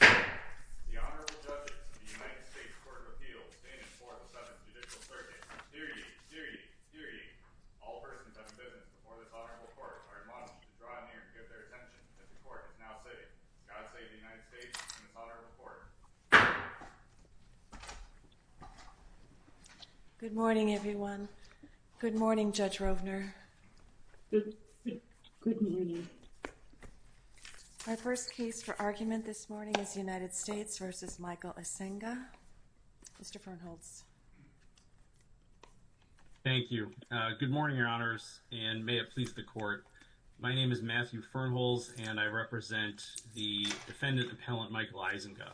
The Honorable Judges of the United States Court of Appeals stand in for the 7th Judicial Circuit. Steer ye, steer ye, steer ye. All persons having business before this Honorable Court are admonished to draw near and give their attention, as the Court is now sitting. God save the United States and this Honorable Court. Good morning, everyone. Good morning, Judge Rovner. Good morning. My first case for argument this morning is United States v. Michael Eisenga. Mr. Fernholz. Thank you. Good morning, Your Honors, and may it please the Court. My name is Matthew Fernholz, and I represent the defendant appellant Michael Eisenga.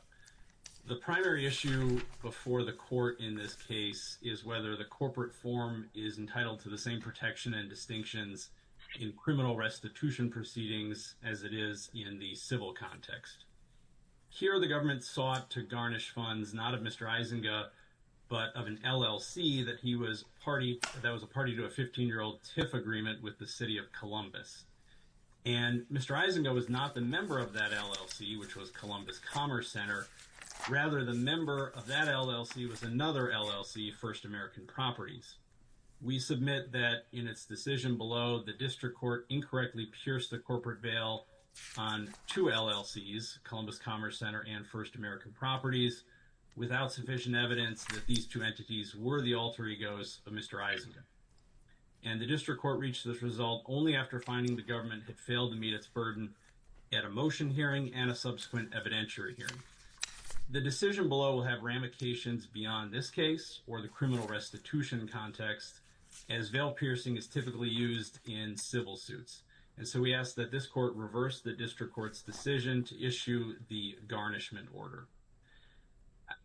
The primary issue before the Court in this case is whether the corporate form is entitled to the same protection and distinctions in criminal restitution proceedings as it is in the civil context. Here, the government sought to garnish funds not of Mr. Eisenga, but of an LLC that was a party to a 15-year-old TIF agreement with the city of Columbus. And Mr. Eisenga was not the member of that LLC, which was Columbus Commerce Center. Rather, the member of that LLC was another LLC, First American Properties. We submit that in its decision below, the District Court incorrectly pierced the corporate veil on two LLCs, Columbus Commerce Center and First American Properties, without sufficient evidence that these two entities were the alter egos of Mr. Eisenga. And the District Court reached this result only after finding the government had failed to meet its burden at a motion hearing and a subsequent evidentiary hearing. The decision below will have ramifications beyond this case or the criminal restitution context, as veil piercing is typically used in civil suits. And so we ask that this Court reverse the District Court's decision to issue the garnishment order.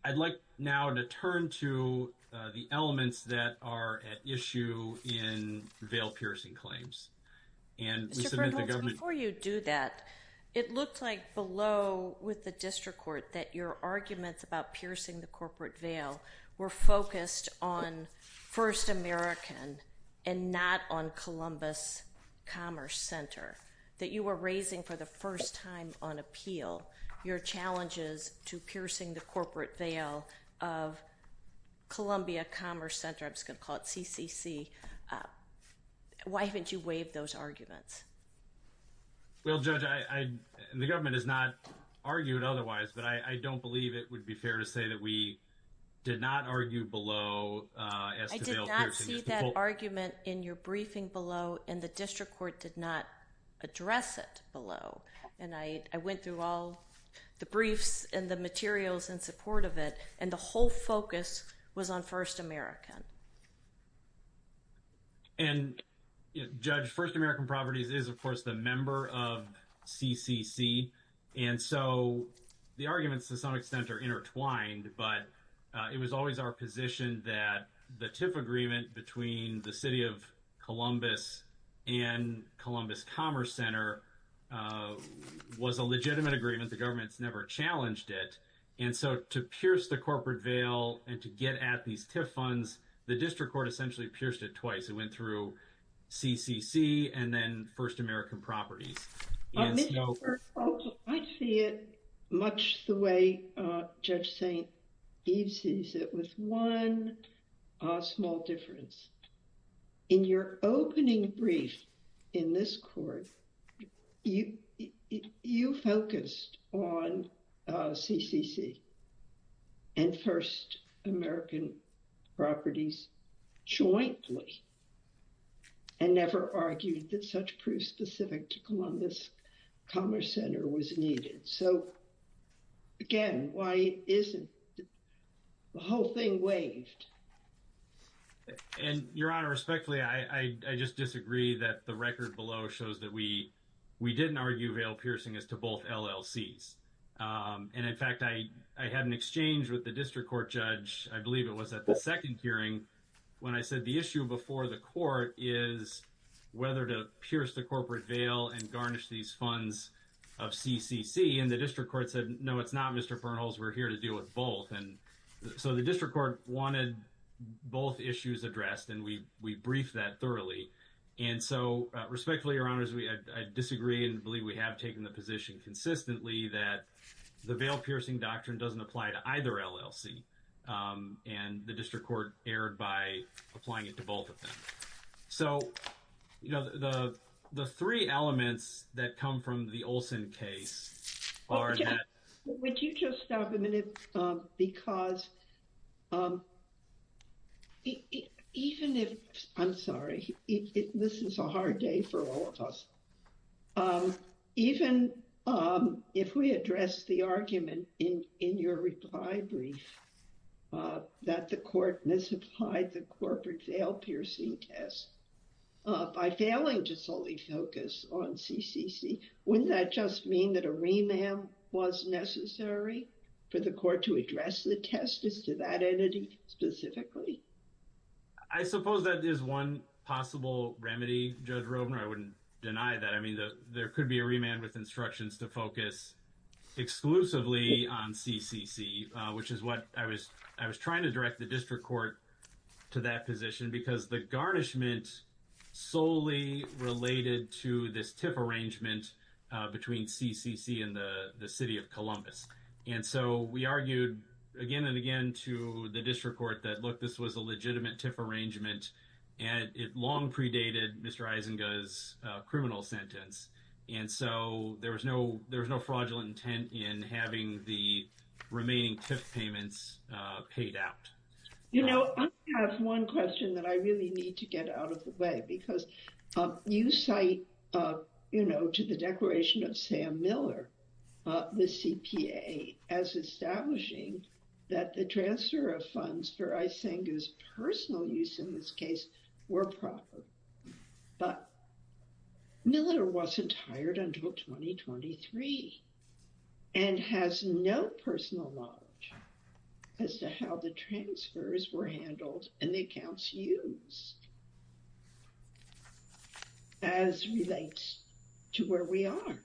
I'd like now to turn to the elements that are at issue in veil piercing claims. Mr. Bernholz, before you do that, it looks like below with the District Court that your arguments about piercing the corporate veil were focused on First American and not on Columbus Commerce Center, that you were raising for the first time on appeal your challenges to piercing the corporate veil of Columbia Commerce Center. I'm just going to call it CCC. Why haven't you waived those arguments? Well, Judge, the government has not argued otherwise, but I don't believe it would be fair to say that we did not argue below as to veil piercing. I did not see that argument in your briefing below, and the District Court did not address it below. And I went through all the briefs and the materials in support of it, and the whole focus was on First American. And, Judge, First American Properties is, of course, the member of CCC. And so the arguments to some extent are intertwined, but it was always our position that the TIF agreement between the City of Columbus and Columbus Commerce Center was a legitimate agreement. The government's never challenged it. And so to pierce the corporate veil and to get at these TIF funds, the District Court essentially pierced it twice. It went through CCC and then First American Properties. I see it much the way Judge St. Eve sees it, with one small difference. In your opening brief in this court, you focused on CCC and First American Properties jointly and never argued that such proof specific to Columbus Commerce Center was needed. So, again, why isn't the whole thing waived? And, Your Honor, respectfully, I just disagree that the record below shows that we didn't argue veil piercing as to both LLCs. And, in fact, I had an exchange with the District Court judge, I believe it was at the second hearing, when I said the issue before the court is whether to pierce the corporate veil and garnish these funds of CCC. And the District Court said, no, it's not, Mr. Bernholz. We're here to deal with both. And so the District Court wanted both issues addressed and we briefed that thoroughly. And so, respectfully, Your Honors, I disagree and believe we have taken the position consistently that the veil piercing doctrine doesn't apply to either LLC. And the District Court erred by applying it to both of them. So, you know, the three elements that come from the Olson case are that... Because even if... I'm sorry. This is a hard day for all of us. Even if we address the argument in your reply brief that the court misapplied the corporate veil piercing test by failing to solely focus on CCC, wouldn't that just mean that a remand was necessary for the court to address the test as to that entity specifically? I suppose that is one possible remedy, Judge Robner. I wouldn't deny that. I mean, there could be a remand with instructions to focus exclusively on CCC, which is what I was trying to direct the District Court to that position because the garnishment solely related to this TIF arrangement between CCC and the City of Columbus. And so, we argued again and again to the District Court that, look, this was a legitimate TIF arrangement and it long predated Mr. Eisinger's criminal sentence. And so, there was no fraudulent intent in having the remaining TIF payments paid out. You know, I have one question that I really need to get out of the way because you cite, you know, to the declaration of Sam Miller, the CPA, as establishing that the transfer of funds for Eisinger's personal use in this case were proper. But Miller wasn't hired until 2023 and has no personal knowledge as to how the transfers were handled and the accounts used as relates to where we are.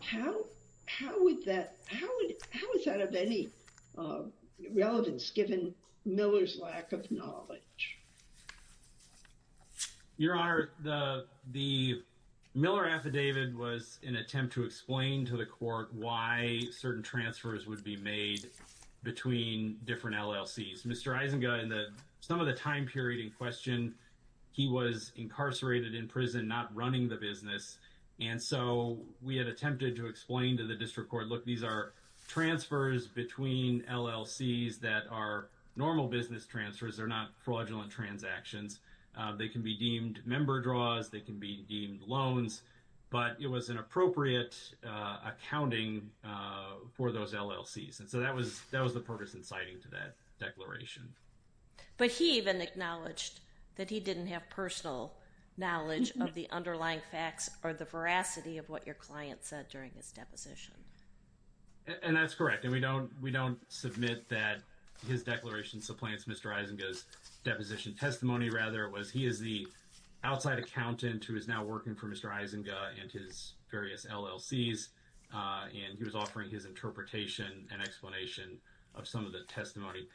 How is that of any relevance given Miller's lack of knowledge? Your Honor, the Miller affidavit was an attempt to explain to the court why certain transfers would be made between different LLCs. Mr. Eisinger, in some of the time period in question, he was incarcerated in prison, not running the business. And so, we had attempted to explain to the District Court, look, these are transfers between LLCs that are normal business transfers. They're not fraudulent transactions. They can be deemed member draws. They can be deemed loans. But it was an appropriate accounting for those LLCs. And so, that was the purpose in citing to that declaration. But he even acknowledged that he didn't have personal knowledge of the underlying facts or the veracity of what your client said during his deposition. And that's correct. And we don't submit that his declaration supplants Mr. Eisinger's deposition testimony, rather. It was he is the outside accountant who is now working for Mr. Eisinger and his various LLCs, and he was offering his interpretation and explanation of some of the testimony.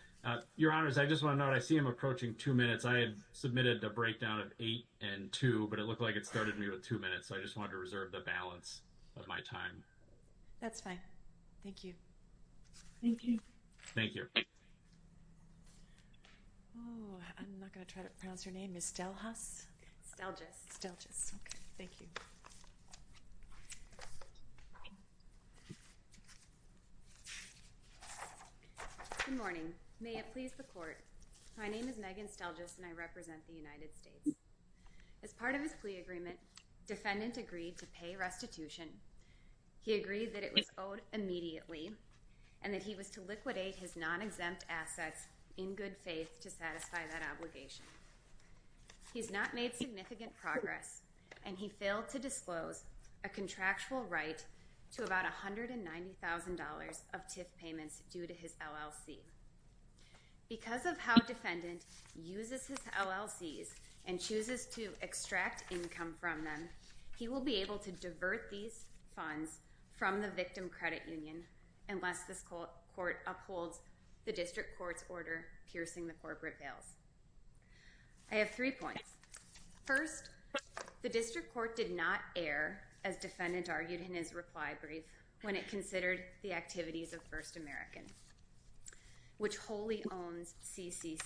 Your Honor, as I just want to note, I see him approaching two minutes. I had submitted a breakdown of eight and two, but it looked like it started me with two minutes, so I just wanted to reserve the balance of my time. That's fine. Thank you. Thank you. Thank you. Oh, I'm not going to try to pronounce your name. Miss Stelhus? Okay. Thank you. Good morning. May it please the Court. My name is Megan Stelgis, and I represent the United States. As part of his plea agreement, defendant agreed to pay restitution. He agreed that it was owed immediately and that he was to liquidate his non-exempt assets in good faith to satisfy that obligation. He's not made significant progress, and he failed to disclose a contractual right to about $190,000 of TIF payments due to his LLC. Because of how defendant uses his LLCs and chooses to extract income from them, he will be able to divert these funds from the victim credit union unless this court upholds the district court's order piercing the corporate veils. I have three points. First, the district court did not err, as defendant argued in his reply brief, when it considered the activities of First American, which wholly owns CCC.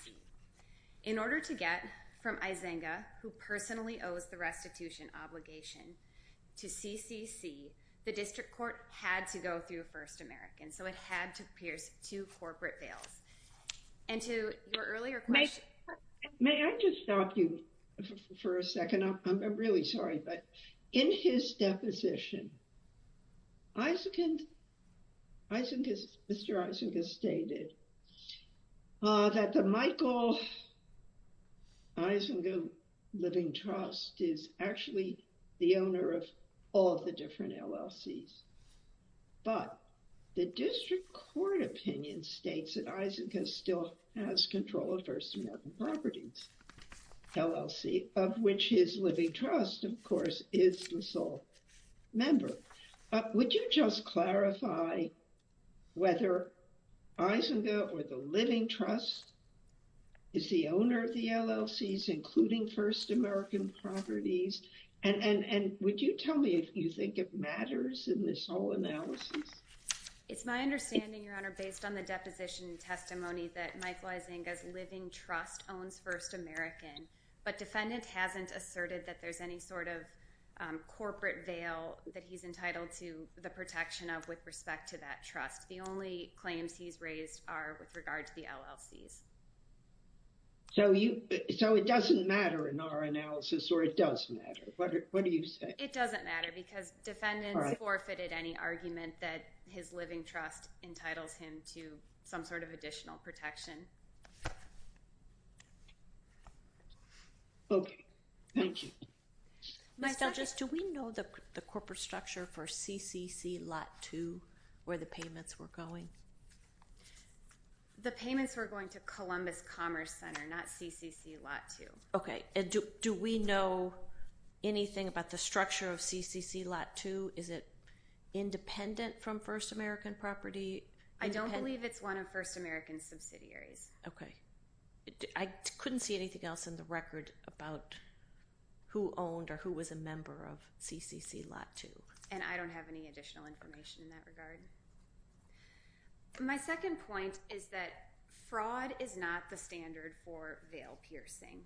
In order to get from Isenga, who personally owes the restitution obligation to CCC, the district court had to go through First American, so it had to pierce two corporate veils. And to your earlier question— May I just stop you for a second? I'm really sorry. But in his deposition, Mr. Isenga stated that the Michael Isenga Living Trust is actually the owner of all the different LLCs. But the district court opinion states that Isenga still has control of First American Properties, LLC, of which his Living Trust, of course, is the sole member. Would you just clarify whether Isenga or the Living Trust is the owner of the LLCs, including First American Properties? And would you tell me if you think it matters in this whole analysis? It's my understanding, Your Honor, based on the deposition testimony, that Michael Isenga's Living Trust owns First American, but defendant hasn't asserted that there's any sort of corporate veil that he's entitled to the protection of with respect to that trust. The only claims he's raised are with regard to the LLCs. So it doesn't matter in our analysis, or it does matter? What do you say? It doesn't matter because defendants forfeited any argument that his Living Trust entitles him to some sort of additional protection. Okay. Thank you. Ms. Douglas, do we know the corporate structure for CCC Lot 2, where the payments were going? The payments were going to Columbus Commerce Center, not CCC Lot 2. Okay. Do we know anything about the structure of CCC Lot 2? Is it independent from First American Property? I don't believe it's one of First American's subsidiaries. Okay. I couldn't see anything else in the record about who owned or who was a member of CCC Lot 2. And I don't have any additional information in that regard. My second point is that fraud is not the standard for veil piercing.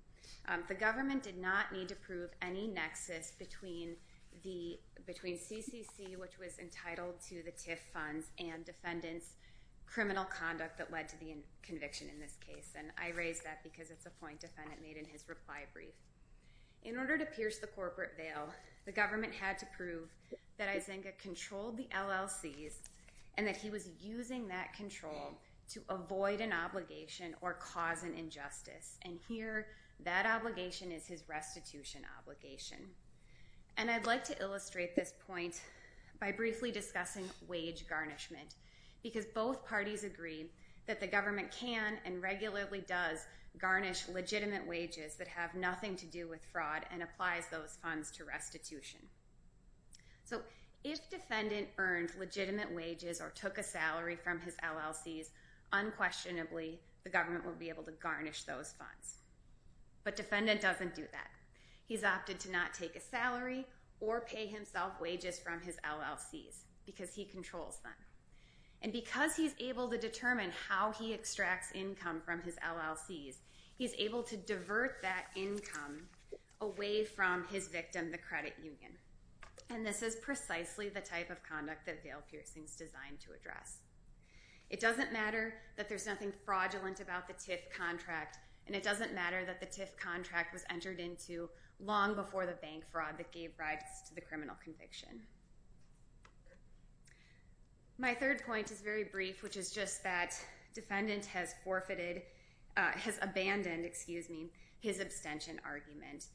The government did not need to prove any nexus between CCC, which was entitled to the TIF funds, and defendants' criminal conduct that led to the conviction in this case. And I raise that because it's a point defendant made in his reply brief. In order to pierce the corporate veil, the government had to prove that Izenga controlled the LLCs and that he was using that control to avoid an obligation or cause an injustice. And here, that obligation is his restitution obligation. And I'd like to illustrate this point by briefly discussing wage garnishment because both parties agree that the government can and regularly does garnish legitimate wages that have nothing to do with fraud and applies those funds to restitution. So if defendant earned legitimate wages or took a salary from his LLCs, unquestionably, the government would be able to garnish those funds. But defendant doesn't do that. He's opted to not take a salary or pay himself wages from his LLCs because he controls them. And because he's able to determine how he extracts income from his LLCs, he's able to divert that income away from his victim, the credit union. And this is precisely the type of conduct that veil piercing is designed to address. It doesn't matter that there's nothing fraudulent about the TIF contract, and it doesn't matter that the TIF contract was entered into long before the bank fraud that gave rise to the criminal conviction. My third point is very brief, which is just that defendant has forfeited, has abandoned, excuse me, his abstention argument.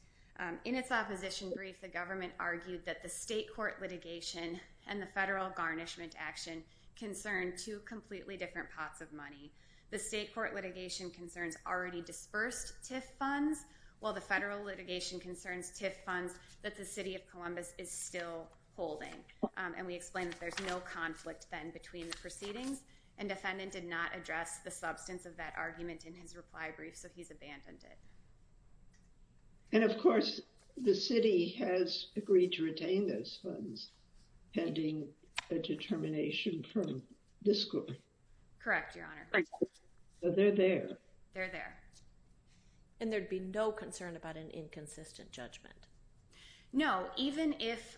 In its opposition brief, the government argued that the state court litigation and the federal garnishment action concern two completely different pots of money. The state court litigation concerns already dispersed TIF funds, while the federal litigation concerns TIF funds that the city of Columbus is still holding. And we explain that there's no conflict, then, between the proceedings. And defendant did not address the substance of that argument in his reply brief, so he's abandoned it. And, of course, the city has agreed to retain those funds pending a determination from this court. Correct, Your Honor. So they're there. They're there. And there'd be no concern about an inconsistent judgment. No, even if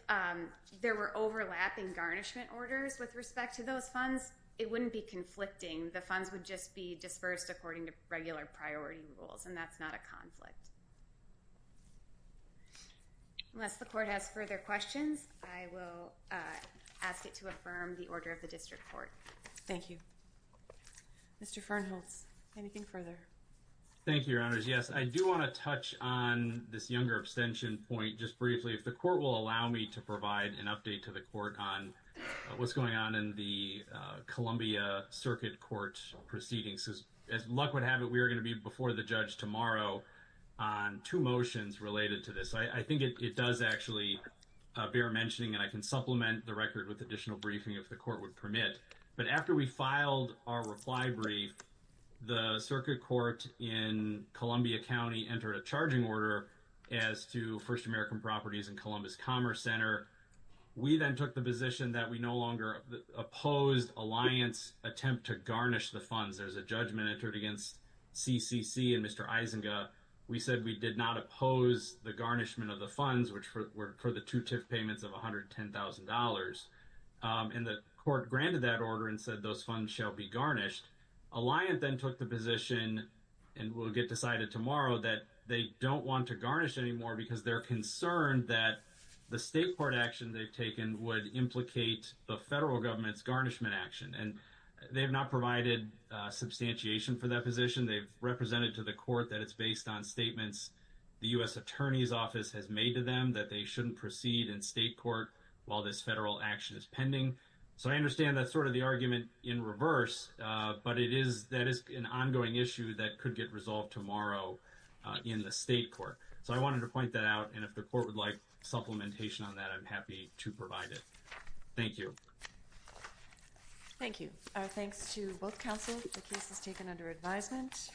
there were overlapping garnishment orders with respect to those funds, it wouldn't be conflicting. The funds would just be dispersed according to regular priority rules, and that's not a conflict. Unless the court has further questions, I will ask it to affirm the order of the district court. Thank you. Mr. Fernholz, anything further? Thank you, Your Honors. Yes, I do want to touch on this younger abstention point just briefly. If the court will allow me to provide an update to the court on what's going on in the Columbia Circuit Court proceedings. As luck would have it, we are going to be before the judge tomorrow on two motions related to this. I think it does actually bear mentioning, and I can supplement the record with additional briefing if the court would permit, but after we filed our reply brief, the Circuit Court in Columbia County entered a charging order as to First American Properties and Columbus Commerce Center. We then took the position that we no longer opposed Alliance's attempt to garnish the funds. There's a judgment entered against CCC and Mr. Isenga. We said we did not oppose the garnishment of the funds, which were for the two TIF payments of $110,000, and the court granted that order and said those funds shall be garnished. Alliance then took the position, and we'll get decided tomorrow, that they don't want to garnish anymore because they're concerned that the state court action they've taken would implicate the federal government's garnishment action. They have not provided substantiation for that position. They've represented to the court that it's based on statements the U.S. Attorney's Office has made to them that they shouldn't proceed in state court while this federal action is So I understand that's sort of the argument in reverse, but it is, that is an ongoing issue that could get resolved tomorrow in the state court. So I wanted to point that out, and if the court would like supplementation on that, I'm happy to provide it. Thank you. Thank you. Our thanks to both counsel. The case is taken under advisement.